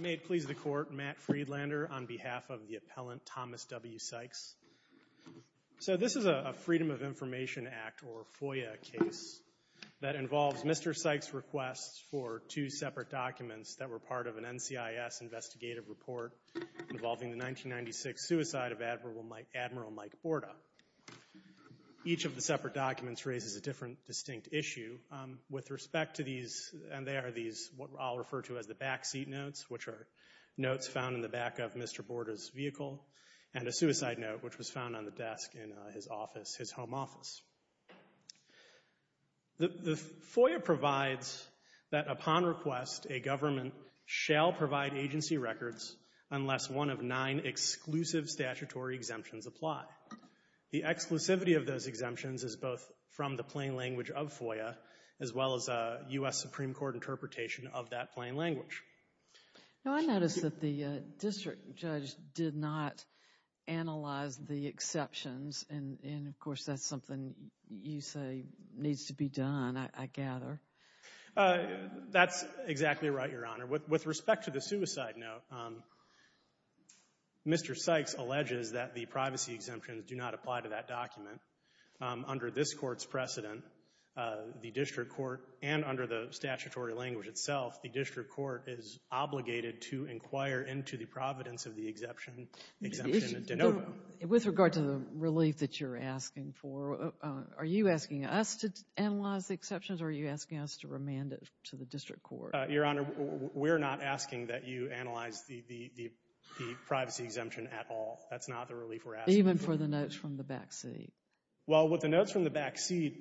May it please the Court, Matt Friedlander on behalf of the appellant Thomas W. Sikes. So this is a Freedom of Information Act, or FOIA, case that involves Mr. Sikes requests for two separate documents that were part of an NCIS investigative report involving the 1996 suicide of Admiral Mike Borda. Each of the separate documents raises a different distinct issue with respect to these, and they are these, what I'll refer to as the backseat notes, which are notes found in the back of Mr. Borda's vehicle, and a suicide note which was found on the desk in his office, his home office. The FOIA provides that, upon request, a government shall provide agency records unless one of nine exclusive statutory exemptions apply. The exclusivity of those exemptions is both from the plain language of FOIA as well as U.S. Supreme Court interpretation of that plain language. Now, I notice that the district judge did not analyze the exceptions, and of course that's something you say needs to be done, I gather. That's exactly right, Your Honor. With respect to the suicide note, Mr. Sikes alleges that the privacy exemptions do not apply to that document. Under this Court's precedent, the district court and under the statutory language itself, the district court is obligated to inquire into the providence of the exemption and to note them. With regard to the relief that you're asking for, are you asking us to analyze the exceptions or are you asking us to remand it to the district court? Your Honor, we're not asking that you analyze the privacy exemption at all. That's not the relief we're asking for. Even for the notes from the backseat? Well, with the notes from the backseat,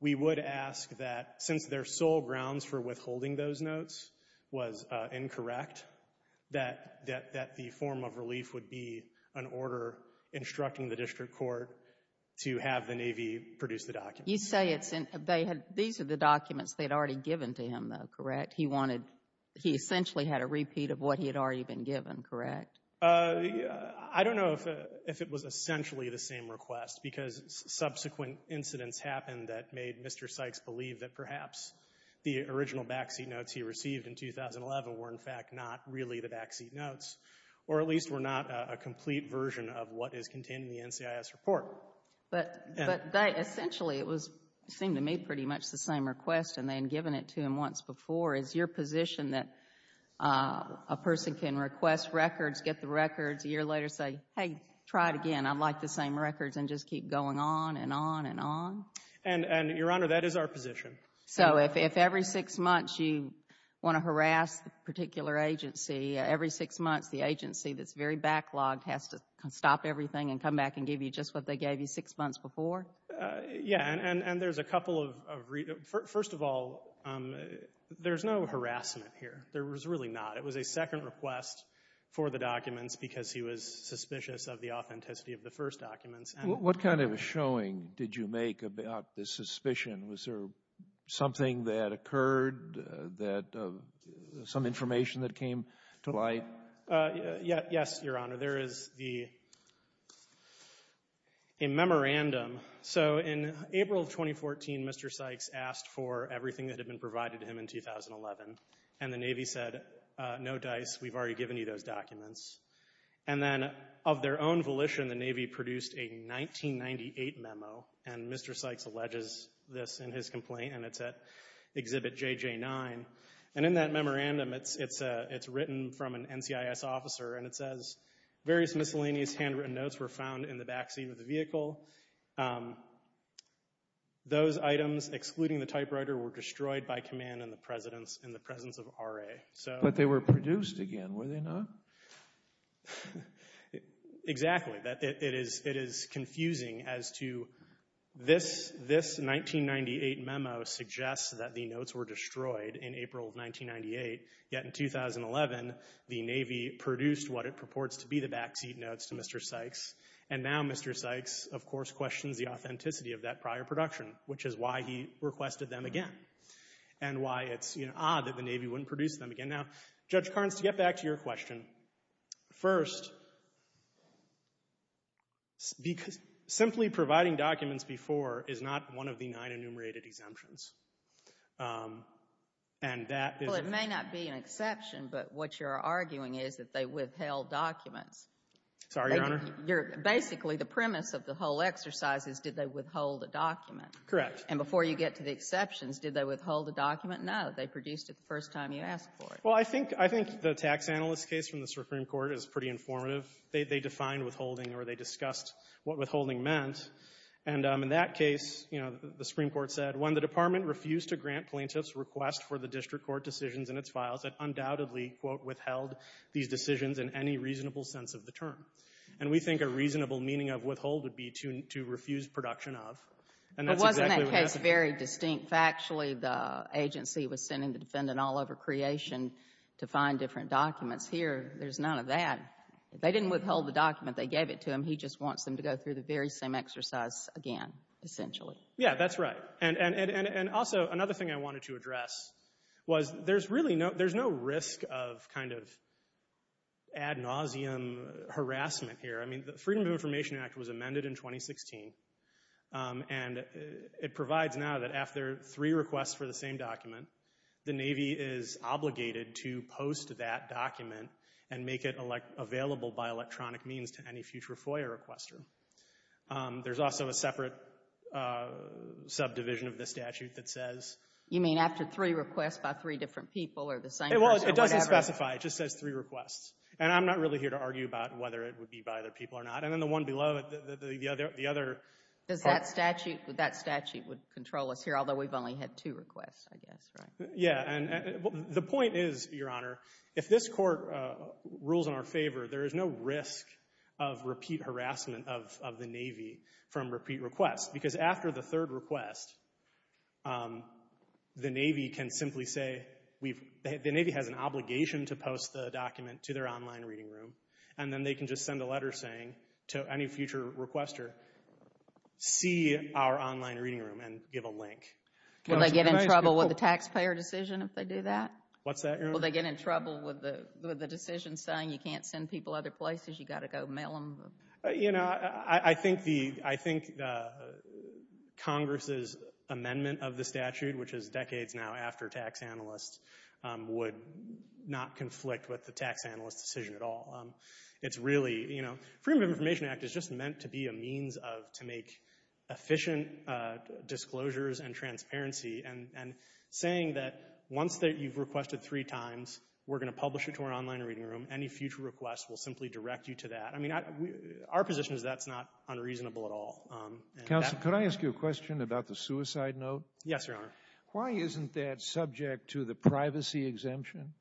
we would ask that, since their sole grounds for withholding those notes was incorrect, that the form of relief would be an order instructing the district court to have the Navy produce the documents. You say it's in, they had, these are the documents they had already given to him, though, correct? He wanted, he essentially had a repeat of what he had already been given, correct? I don't know if it was essentially the same request, because subsequent incidents happened that made Mr. Sikes believe that perhaps the original backseat notes he received in 2011 were, in fact, not really the backseat notes, or at least were not a complete version of what is contained in the NCIS report. But they essentially, it seemed to me pretty much the same request, and they had given it to him once before. Is your position that a person can request records, get the records, a year later say, hey, try it again, I'd like the same records, and just keep going on and on and on? And Your Honor, that is our position. So if every six months you want to harass a particular agency, every six months the agency will stop everything and come back and give you just what they gave you six months before? Yeah. And there's a couple of, first of all, there's no harassment here. There was really not. It was a second request for the documents because he was suspicious of the authenticity of the first documents. What kind of a showing did you make about the suspicion? Was there something that occurred that, some information that came to light? Yes, Your Honor. There is a memorandum. So in April of 2014, Mr. Sykes asked for everything that had been provided to him in 2011, and the Navy said, no dice, we've already given you those documents. And then of their own volition, the Navy produced a 1998 memo, and Mr. Sykes alleges this in his complaint, and it's at Exhibit JJ9. And in that memorandum, it's written from an NCIS officer, and it says, various miscellaneous handwritten notes were found in the backseat of the vehicle. Those items, excluding the typewriter, were destroyed by command in the presence of RA. But they were produced again, were they not? Exactly. It is confusing as to this 1998 memo suggests that the notes were destroyed in April of 1998, yet in 2011, the Navy produced what it purports to be the backseat notes to Mr. Sykes, and now Mr. Sykes, of course, questions the authenticity of that prior production, which is why he requested them again, and why it's, you know, odd that the Navy wouldn't produce them again. Now, Judge Carnes, to get back to your question, first, simply providing documents before is not one of the nine enumerated exemptions. And that is the ---- Well, it may not be an exception, but what you're arguing is that they withheld documents. Sorry, Your Honor. Basically, the premise of the whole exercise is did they withhold a document. Correct. And before you get to the exceptions, did they withhold a document? No. They produced it the first time you asked for it. Well, I think the tax analyst case from the Supreme Court is pretty informative. They defined withholding, or they discussed what withholding meant. And in that case, you know, the Supreme Court said, when the department refused to grant plaintiffs' request for the district court decisions in its files, it undoubtedly, quote, withheld these decisions in any reasonable sense of the term. And we think a reasonable meaning of withhold would be to refuse production of. And that's exactly what ---- But wasn't that case very distinct? I mean, if actually the agency was sending the defendant all over Creation to find different documents, here there's none of that. They didn't withhold the document. They gave it to him. He just wants them to go through the very same exercise again, essentially. Yeah, that's right. And also, another thing I wanted to address was there's really no ---- there's no risk of kind of ad nauseum harassment here. I mean, the Freedom of Information Act was amended in 2016. And it provides now that after three requests for the same document, the Navy is obligated to post that document and make it available by electronic means to any future FOIA requester. There's also a separate subdivision of the statute that says ---- You mean after three requests by three different people or the same person or whatever? Well, it doesn't specify. It just says three requests. And I'm not really here to argue about whether it would be by other people or not. And then the one below it, the other ---- Does that statute ---- that statute would control us here, although we've only had two requests, I guess, right? Yeah. And the point is, Your Honor, if this Court rules in our favor, there is no risk of repeat harassment of the Navy from repeat requests. Because after the third request, the Navy can simply say we've ---- the Navy has an obligation to post the document to their online reading room. And then they can just send a letter saying to any future requester, see our online reading room and give a link. Can they get in trouble with the taxpayer decision if they do that? What's that, Your Honor? Will they get in trouble with the decision saying you can't send people other places, you've got to go mail them? You know, I think the ---- I think Congress's amendment of the statute, which is decades now after tax analyst, would not conflict with the tax analyst decision at all. It's really, you know, Freedom of Information Act is just meant to be a means of, to make efficient disclosures and transparency. And saying that once that you've requested three times, we're going to publish it to our online reading room, any future request will simply direct you to that, I mean, our position is that's not unreasonable at all. Counsel, could I ask you a question about the suicide note? Yes, Your Honor. Why isn't that subject to the privacy exemption?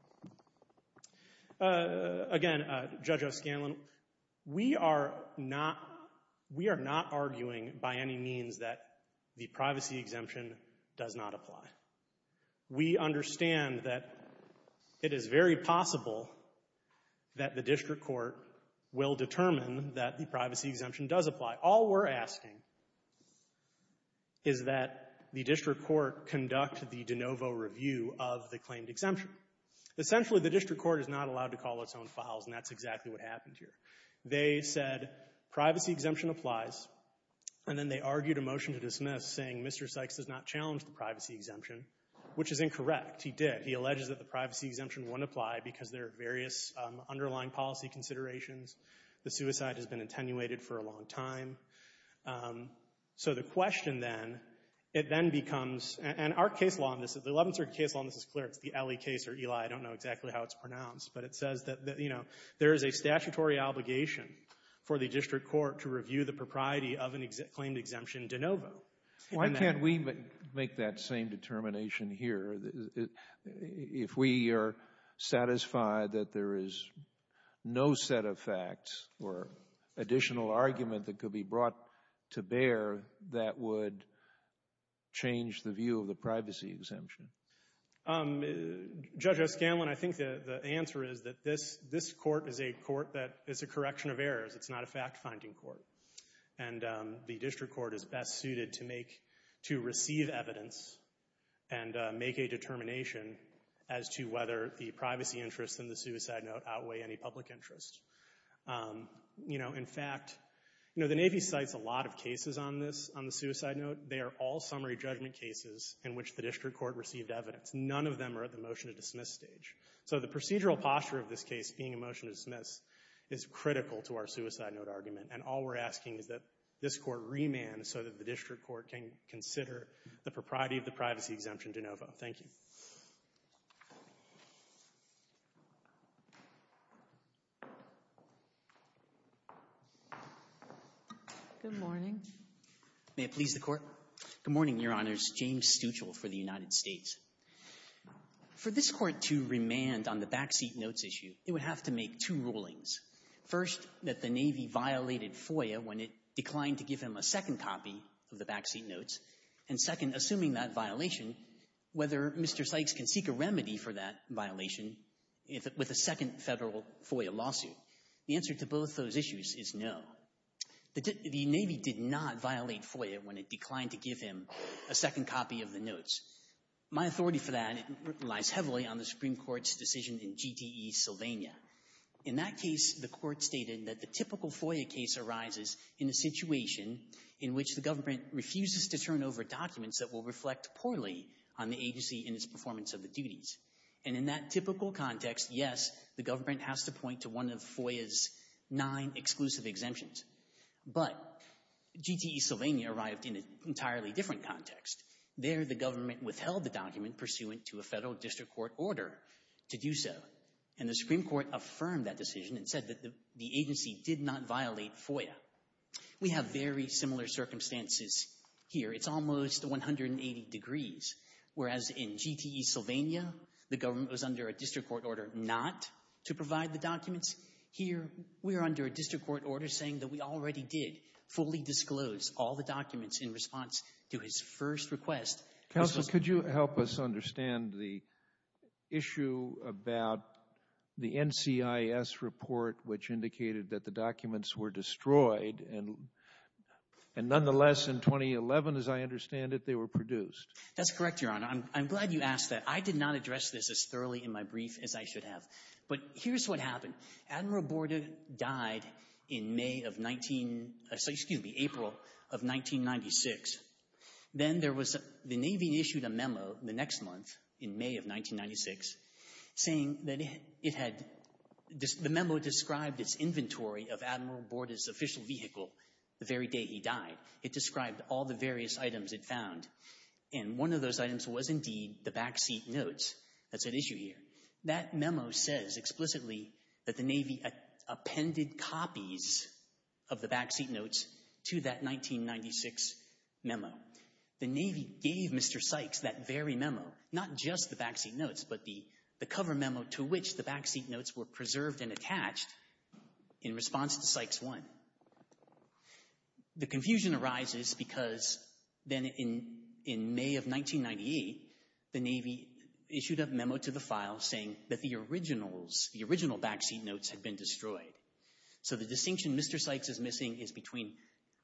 Again, Judge O'Scanlan, we are not, we are not arguing by any means that the privacy exemption does not apply. We understand that it is very possible that the district court will determine that the privacy exemption does apply. All we're asking is that the district court conduct the de novo review of the claimed exemption. Essentially, the district court is not allowed to call its own files, and that's exactly what happened here. They said privacy exemption applies, and then they argued a motion to dismiss saying Mr. Sykes does not challenge the privacy exemption, which is incorrect. He did. He alleges that the privacy exemption wouldn't apply because there are various underlying policy considerations. The suicide has been attenuated for a long time. So the question then, it then becomes, and our case law on this, the Eleventh Circuit case law on this is clear. It's the Elie case or Elie. I don't know exactly how it's pronounced, but it says that, you know, there is a statutory obligation for the district court to review the propriety of a claimed exemption de novo. Why can't we make that same determination here? If we are satisfied that there is no set of facts or additional argument that could be brought to bear, that would change the view of the privacy exemption. Judge O'Scanlan, I think the answer is that this court is a court that is a correction of errors. It's not a fact-finding court. And the district court is best suited to make, to receive evidence and make a determination as to whether the privacy interest in the suicide note outweigh any public interest. You know, in fact, you know, the Navy cites a lot of cases on this, on the suicide note. They are all summary judgment cases in which the district court received evidence. None of them are at the motion to dismiss stage. So the procedural posture of this case being a motion to dismiss is critical to our suicide note argument. And all we're asking is that this court remand so that the district court can consider the propriety of the privacy exemption de novo. Thank you. Sotomayor, may I please the Court? Good morning, Your Honors. James Stuchel for the United States. For this Court to remand on the backseat notes issue, it would have to make two rulings. First, that the Navy violated FOIA when it declined to give him a second copy of the backseat notes, and second, assuming that violation, whether Mr. Sykes can seek a remedy for that violation with a second Federal FOIA lawsuit. The answer to both those issues is no. The Navy did not violate FOIA when it declined to give him a second copy of the notes. My authority for that lies heavily on the Supreme Court's decision in GTE Sylvania. In that case, the Court stated that the typical FOIA case arises in a situation in which the government refuses to turn over documents that will reflect poorly on the agency in its performance of the duties. And in that typical context, yes, the government has to point to one of FOIA's nine exclusive exemptions. But GTE Sylvania arrived in an entirely different context. There, the government withheld the document pursuant to a Federal district court order to do so. And the Supreme Court affirmed that decision and said that the agency did not violate FOIA. We have very similar circumstances here. It's almost 180 degrees, whereas in GTE Sylvania, the government was under a district court order not to provide the documents. Here, we are under a district court order saying that we already did fully disclose all the documents in response to his first request. Counsel, could you help us understand the issue about the NCIS report, which indicated that the documents were destroyed, and nonetheless, in 2011, as I understand it, they were produced? That's correct, Your Honor. I'm glad you asked that. I did not address this as thoroughly in my brief as I should have. But here's what happened. Admiral Borda died in May of 19—excuse me, April of 1996. Then there was—the Navy issued a memo the next month, in May of 1996, saying that it had—the memo described its inventory of Admiral Borda's official vehicle the very day he died. It described all the various items it found, and one of those items was indeed the backseat notes. That's at issue here. That memo says explicitly that the Navy appended copies of the backseat notes to that 1996 memo. The Navy gave Mr. Sykes that very memo, not just the backseat notes, but the cover memo to which the backseat notes were preserved and attached in response to Sykes 1. The confusion arises because then in May of 1998, the Navy issued a memo to the file saying that the originals—the original backseat notes had been destroyed. So the distinction Mr. Sykes is missing is between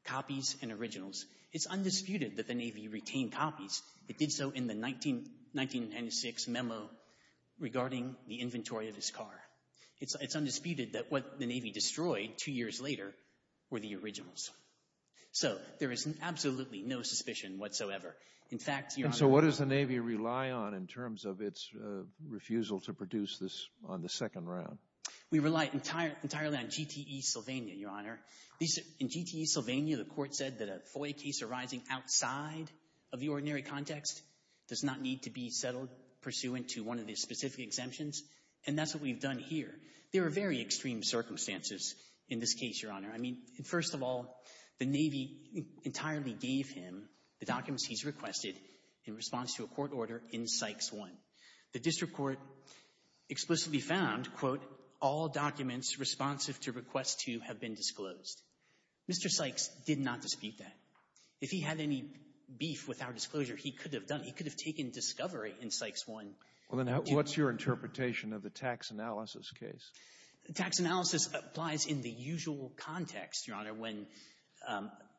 copies and originals. It's undisputed that the Navy retained copies. It did so in the 1996 memo regarding the inventory of his car. It's undisputed that what the Navy destroyed two years later were the originals. So there is absolutely no suspicion whatsoever. In fact, Your Honor— And so what does the Navy rely on in terms of its refusal to produce this on the second round? We rely entirely on GTE Sylvania, Your Honor. In GTE Sylvania, the Court said that a FOIA case arising outside of the ordinary context does not need to be settled pursuant to one of the specific exemptions, and that's what we've done here. There are very extreme circumstances in this case, Your Honor. I mean, first of all, the Navy entirely gave him the documents he's requested in response to a court order in Sykes 1. The District Court explicitly found, quote, all documents responsive to request 2 have been disclosed. Mr. Sykes did not dispute that. If he had any beef with our disclosure, he could have done—he could have taken discovery in Sykes 1. Well, then what's your interpretation of the tax analysis case? Tax analysis applies in the usual context, Your Honor, when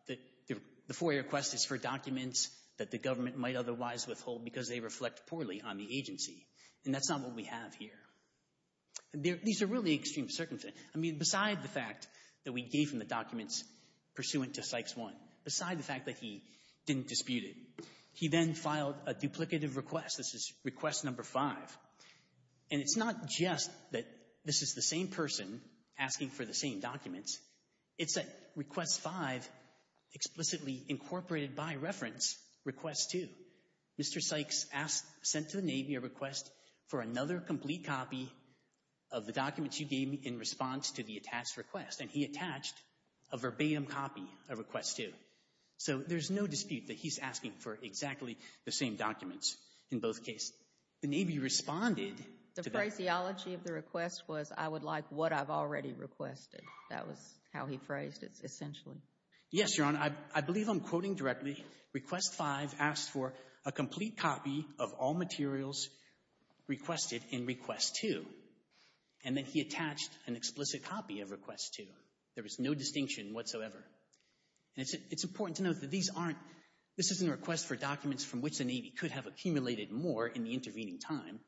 the FOIA request is for documents that the government might otherwise withhold because they reflect poorly on the agency, and that's not what we have here. These are really extreme circumstances. I mean, beside the fact that we gave him the documents pursuant to Sykes 1, beside the fact that he didn't dispute it, he then filed a duplicative request. This is request number 5, and it's not just that this is the same person asking for the same documents. It's that request 5 explicitly incorporated by reference request 2. Mr. Sykes asked—sent to the Navy a request for another complete copy of the documents you gave me in response to the attached request, and he attached a verbatim copy of request 2. So there's no dispute that he's asking for exactly the same documents in both cases. The Navy responded— The phraseology of the request was, I would like what I've already requested. That was how he phrased it, essentially. Yes, Your Honor. I believe I'm quoting directly. Request 5 asked for a complete copy of all materials requested in request 2, and then he attached an explicit copy of request 2. There was no distinction whatsoever. It's important to note that these aren't—this isn't a request for documents from which the Navy could have accumulated more in the intervening time.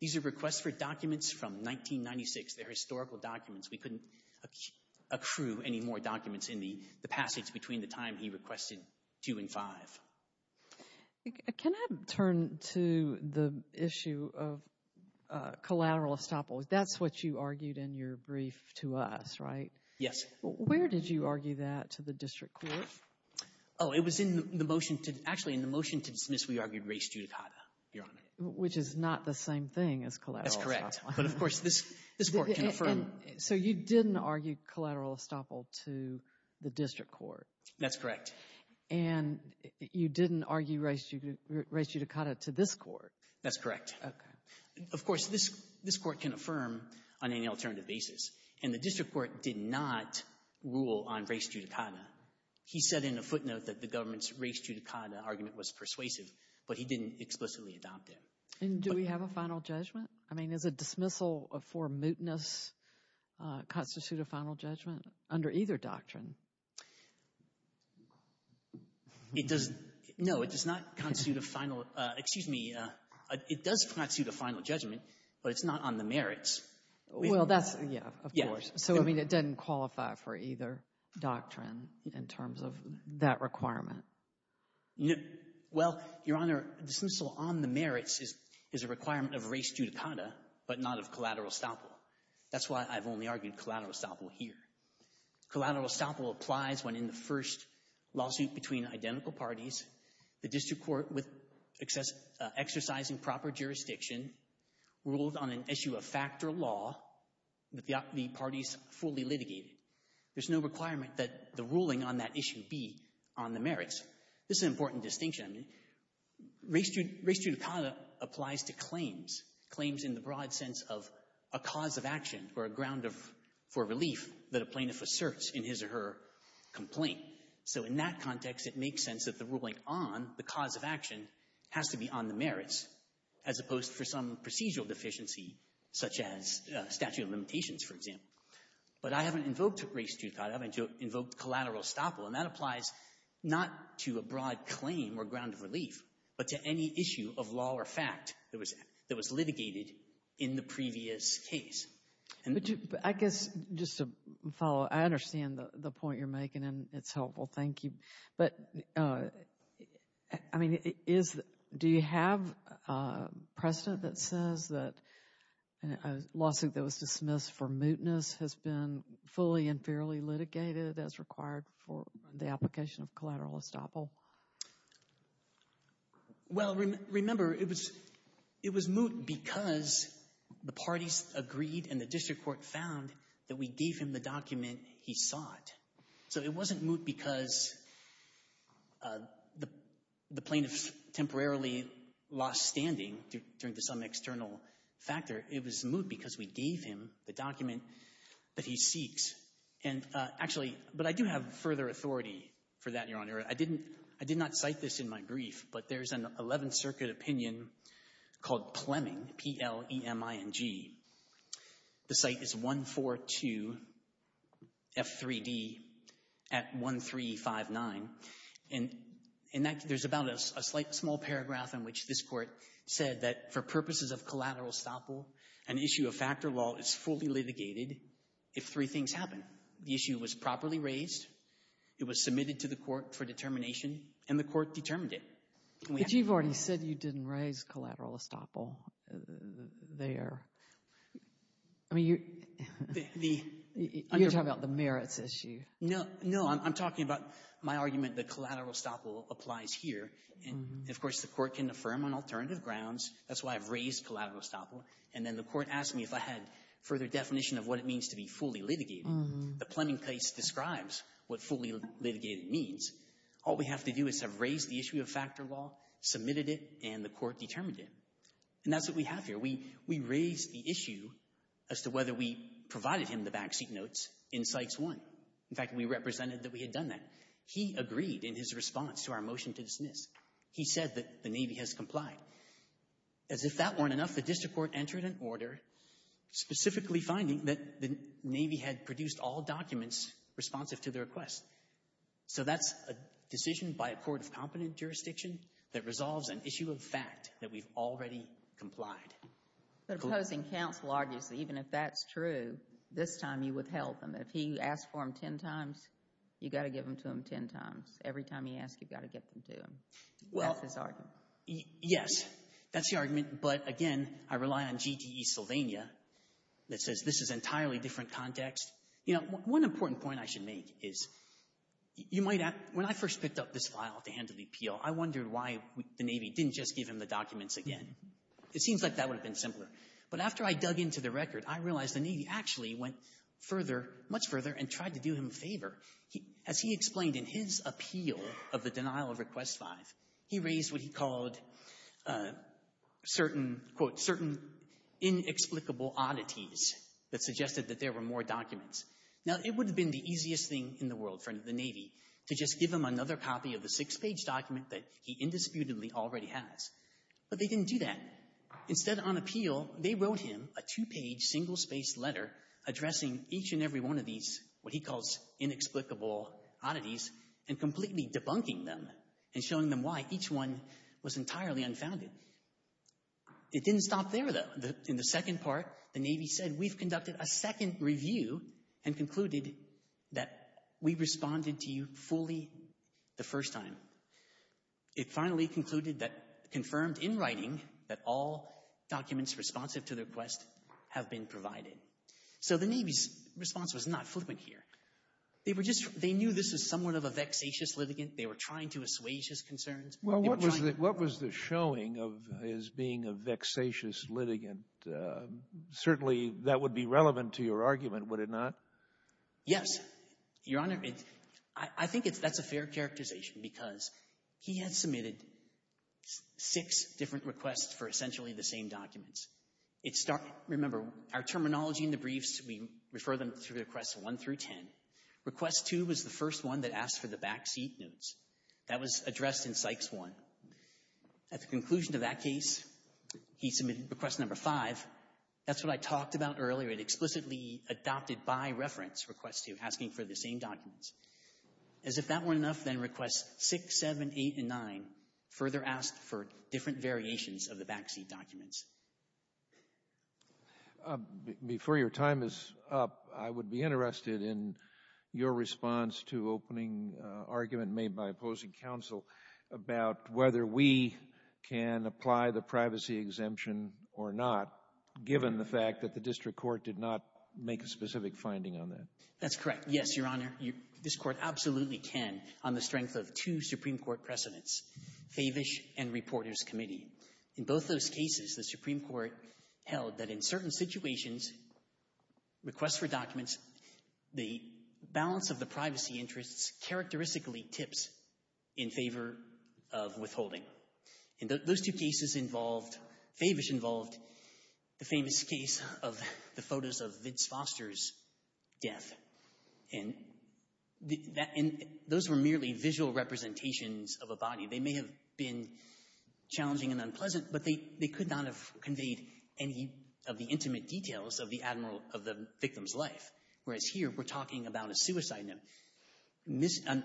These are requests for documents from 1996. They're historical documents. We couldn't accrue any more documents in the passage between the time he requested 2 and 5. Can I turn to the issue of collateral estoppel? That's what you argued in your brief to us, right? Yes. Where did you argue that to the district court? Oh, it was in the motion to—actually, in the motion to dismiss, we argued res judicata, Your Honor. Which is not the same thing as collateral estoppel. That's correct. But, of course, this court can affirm— So you didn't argue collateral estoppel to the district court? That's correct. And you didn't argue res judicata to this court? That's correct. Okay. So, of course, this court can affirm on any alternative basis, and the district court did not rule on res judicata. He said in a footnote that the government's res judicata argument was persuasive, but he didn't explicitly adopt it. And do we have a final judgment? I mean, does a dismissal for mootness constitute a final judgment under either doctrine? It does—no, it does not constitute a final—excuse me. It does constitute a final judgment, but it's not on the merits. Well, that's—yeah, of course. So, I mean, it doesn't qualify for either doctrine in terms of that requirement. Well, Your Honor, dismissal on the merits is a requirement of res judicata, but not of collateral estoppel. That's why I've only argued collateral estoppel here. Collateral estoppel applies when in the first lawsuit between identical parties, the district court with exercising proper jurisdiction ruled on an issue of fact or law that the parties fully litigated. There's no requirement that the ruling on that issue be on the merits. This is an important distinction. Res judicata applies to claims, claims in the broad sense of a cause of action or a ground of—for relief that a plaintiff asserts in his or her complaint. So in that context, it makes sense that the ruling on the cause of action has to be on the merits as opposed to some procedural deficiency such as statute of limitations, for example. But I haven't invoked res judicata. I haven't invoked collateral estoppel, and that applies not to a broad claim or ground of relief, but to any issue of law or fact that was litigated in the previous case. I guess just to follow, I understand the point you're making, and it's helpful. Thank you. But, I mean, is—do you have precedent that says that a lawsuit that was dismissed for mootness has been fully and fairly litigated as required for the application of collateral estoppel? Well, remember, it was—it was moot because the parties agreed and the district court found that we gave him the document he sought. So it wasn't moot because the plaintiff temporarily lost standing due to some external factor. It was moot because we gave him the document that he seeks. And actually—but I do have further authority for that, Your Honor. I didn't—I did not cite this in my brief, but there's an Eleventh Circuit opinion called Pleming, P-L-E-M-I-N-G. The site is 142 F3d at 1359. And in that—there's about a slight small paragraph in which this court said that for purposes of collateral estoppel, an issue of factor law is fully litigated if three things happen. The issue was properly raised, it was submitted to the court for determination, and the court determined it. But you've already said you didn't raise collateral estoppel there. I mean, you—you're talking about the merits issue. No, no. I'm talking about my argument that collateral estoppel applies here, and of course the court can affirm on alternative grounds. That's why I've raised collateral estoppel. And then the court asked me if I had further definition of what it means to be fully litigated. The Pleming case describes what fully litigated means. All we have to do is have raised the issue of factor law, submitted it, and the court determined it. And that's what we have here. We raised the issue as to whether we provided him the backseat notes in Cites I. In fact, we represented that we had done that. He agreed in his response to our motion to dismiss. He said that the Navy has complied. As if that weren't enough, the district court entered an order specifically finding that the Navy had produced all documents responsive to the request. So that's a decision by a court of competent jurisdiction that resolves an issue of fact that we've already complied. But opposing counsel argues that even if that's true, this time you withheld them. If he asked for them ten times, you've got to give them to him ten times. Every time he asks, you've got to get them to him. That's his argument. Yes. That's the argument. But again, I rely on GTE Sylvania that says this is entirely different context. You know, one important point I should make is you might ask, when I first picked up this file to handle the appeal, I wondered why the Navy didn't just give him the documents again. It seems like that would have been simpler. But after I dug into the record, I realized the Navy actually went further, much further, and tried to do him a favor. As he explained in his appeal of the denial of Request 5, he raised what he called certain, quote, certain inexplicable oddities that suggested that there were more documents. Now, it would have been the easiest thing in the world for the Navy to just give him another copy of the six-page document that he indisputably already has, but they didn't do that. Instead, on appeal, they wrote him a two-page, single-spaced letter addressing each and every one of these, what he calls, inexplicable oddities and completely debunking them and showing them why each one was entirely unfounded. It didn't stop there, though. In the second part, the Navy said, we've conducted a second review and concluded that we responded to you fully the first time. It finally concluded that, confirmed in writing, that all documents responsive to the request have been provided. So the Navy's response was not fluent here. They were just — they knew this was somewhat of a vexatious litigant. They were trying to assuage his concerns. They were trying — Well, what was the — what was the showing of his being a vexatious litigant? Certainly that would be relevant to your argument, would it not? Yes, Your Honor. I think it's — that's a fair characterization because he had submitted six different requests for essentially the same documents. It — remember, our terminology in the briefs, we refer them to requests one through ten. Request two was the first one that asked for the backseat notes. That was addressed in psychs one. At the conclusion of that case, he submitted request number five. That's what I talked about earlier. It explicitly adopted by reference request two, asking for the same documents. As if that weren't enough, then requests six, seven, eight, and nine further asked for different variations of the backseat documents. Before your time is up, I would be interested in your response to opening argument made by opposing counsel about whether we can apply the privacy exemption or not, given the fact that the district court did not make a specific finding on that. That's correct. Yes, Your Honor, this court absolutely can on the strength of two Supreme Court precedents, Favish and Reporters Committee. In both those cases, the Supreme Court held that in certain situations, requests for documents, the balance of the privacy interests characteristically tips in favor of withholding. And those two cases involved — Favish involved the famous case of the photos of Vince Foster's death. And that — and those were merely visual representations of a body. They may have been challenging and unpleasant, but they could not have conveyed any of the intimate details of the victim's life. Whereas here, we're talking about a suicide note.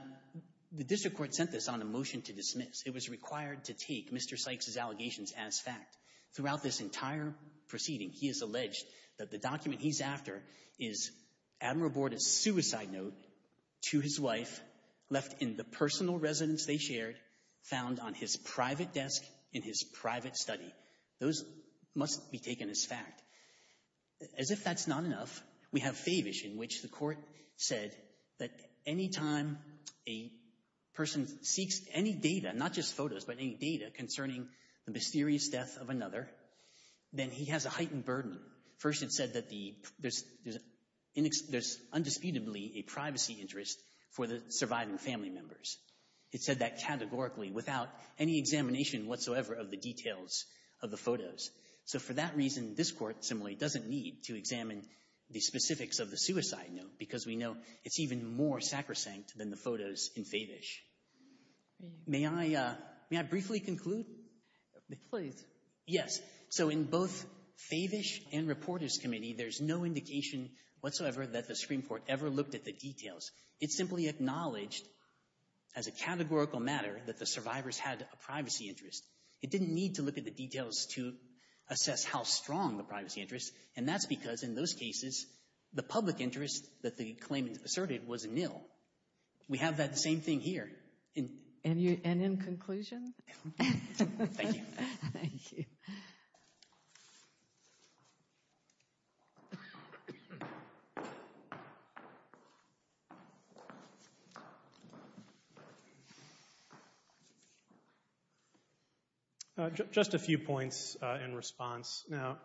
The district court sent this on a motion to dismiss. It was required to take Mr. Sykes' allegations as fact. Throughout this entire proceeding, he has alleged that the document he's after is Admiral Borda's suicide note to his wife left in the personal residence they shared, found on his private desk in his private study. Those must be taken as fact. As if that's not enough, we have Favish, in which the court said that any time a person seeks any data, not just photos, but any data concerning the mysterious death of another, then he has a heightened burden. First, it said that the — there's undisputably a privacy interest for the surviving family members. It said that categorically, without any examination whatsoever of the details of the photos. So for that reason, this court, similarly, doesn't need to examine the specifics of the suicide note, because we know it's even more sacrosanct than the photos in Favish. May I — may I briefly conclude? Please. Yes. So in both Favish and Reporters' Committee, there's no indication whatsoever that the Supreme Court ever looked at the details. It simply acknowledged, as a categorical matter, that the survivors had a privacy interest. It didn't need to look at the details to assess how strong the privacy interest, and that's because, in those cases, the public interest that the claimant asserted was nil. We have that same thing here. And you — and in conclusion? Thank you. Thank you. Just a few points in response. Now,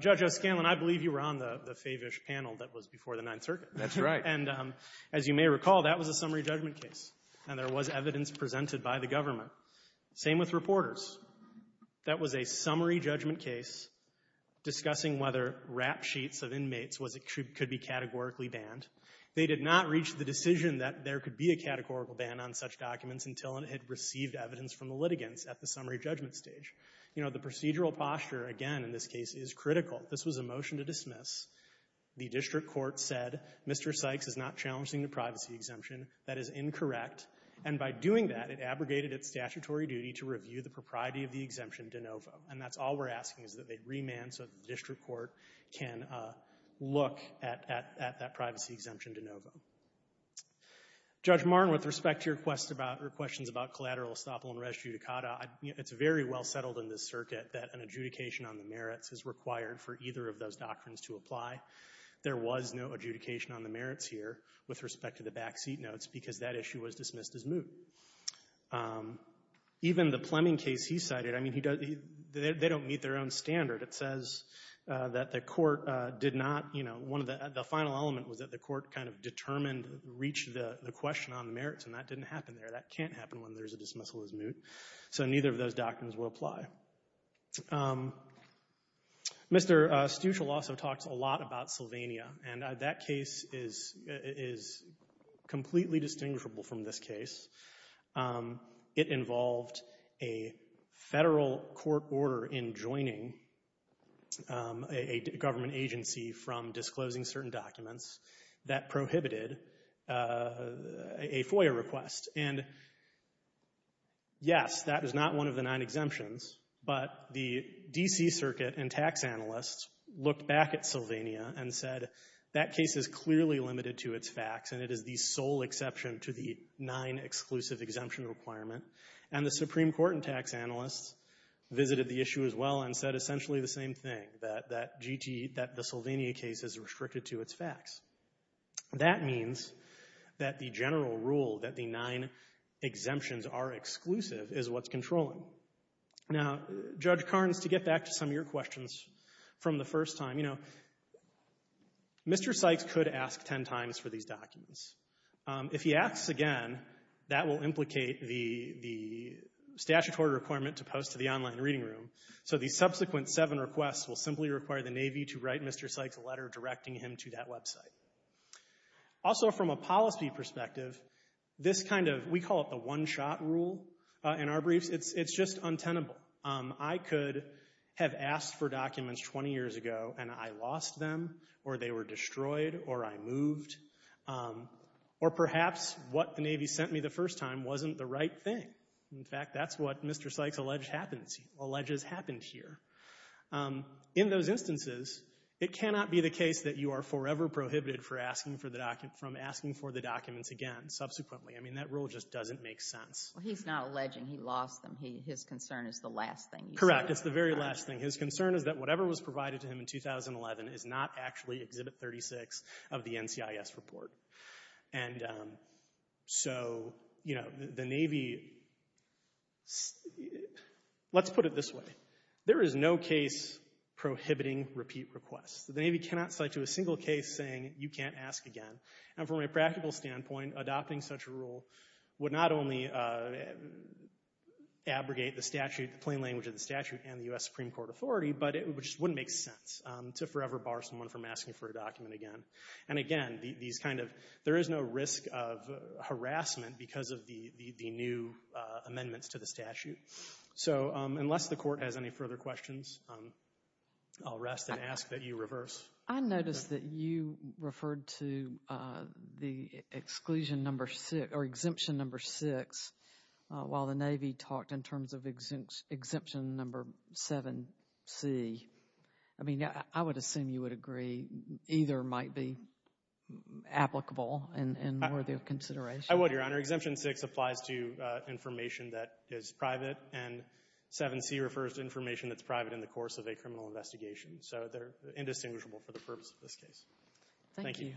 Judge O'Scanlan, I believe you were on the Favish panel that was before the Ninth Circuit. That's right. And as you may recall, that was a summary judgment case, and there was evidence presented by the government Same with Reporters. That was a summary judgment case discussing whether rap sheets of inmates was — could be categorically banned. They did not reach the decision that there could be a categorical ban on such documents until it had received evidence from the litigants at the summary judgment stage. You know, the procedural posture, again, in this case, is critical. This was a motion to dismiss. The district court said, Mr. Sykes is not challenging the privacy exemption. That is incorrect. And by doing that, it abrogated its statutory duty to review the propriety of the exemption de novo. And that's all we're asking, is that they remand so that the district court can look at that privacy exemption de novo. Judge Martin, with respect to your questions about collateral estoppel and res judicata, it's very well settled in this circuit that an adjudication on the merits is required for either of those doctrines to apply. There was no adjudication on the merits here with respect to the backseat notes because that issue was dismissed as moot. Even the Pleming case he cited, I mean, he — they don't meet their own standard. It says that the court did not — you know, one of the — the final element was that the court kind of determined — reached the question on merits, and that didn't happen there. That can't happen when there's a dismissal as moot. So neither of those doctrines will apply. Mr. Stuchel also talks a lot about Sylvania. And that case is — is completely distinguishable from this case. It involved a Federal court order enjoining a government agency from disclosing certain documents that prohibited a FOIA request. And, yes, that is not one of the nine exemptions, but the D.C. Circuit and tax analysts looked back at Sylvania and said, that case is clearly limited to its facts, and it is the sole exception to the nine-exclusive exemption requirement. And the Supreme Court and tax analysts visited the issue as well and said essentially the same thing, that — that G.T. — that the Sylvania case is restricted to its facts. That means that the general rule that the nine exemptions are exclusive is what's controlling. Now, Judge Carnes, to get back to some of your questions from the first time, you know, Mr. Sykes could ask 10 times for these documents. If he asks again, that will implicate the — the statute order requirement to post to the online reading room. So the subsequent seven requests will simply require the Navy to write Mr. Sykes a letter directing him to that website. Also, from a policy perspective, this kind of — we call it the one-shot rule in our briefs. It's — it's just untenable. I could have asked for documents 20 years ago, and I lost them, or they were destroyed, or I moved. Or perhaps what the Navy sent me the first time wasn't the right thing. In fact, that's what Mr. Sykes alleged happens — alleges happened here. In those instances, it cannot be the case that you are forever prohibited for asking for the document — from asking for the documents again subsequently. I mean, that rule just doesn't make sense. Well, he's not alleging he lost them. He — his concern is the last thing he said. Correct. It's the very last thing. His concern is that whatever was provided to him in 2011 is not actually Exhibit 36 of the NCIS report. And so, you know, the Navy — let's put it this way. There is no case prohibiting repeat requests. The Navy cannot cite you a single case saying you can't ask again. And from a practical standpoint, adopting such a rule would not only abrogate the statute — the plain language of the statute and the U.S. Supreme Court authority, but it just wouldn't make sense to forever bar someone from asking for a document again. And again, these kind of — there is no risk of harassment because of the new amendments to the statute. So unless the Court has any further questions, I'll rest and ask that you reverse. I noticed that you referred to the Exclusion No. 6 — or Exemption No. 6 while the Navy talked in terms of Exemption No. 7c. I mean, I would assume you would agree either might be applicable and worthy of consideration. I would, Your Honor. Exemption 6 applies to information that is private, and 7c refers to information that's private in the course of a criminal investigation. So they're indistinguishable for the purpose of this case. Thank you.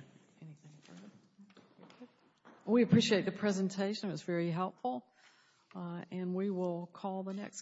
We appreciate the presentation. It was very helpful. And we will call the next.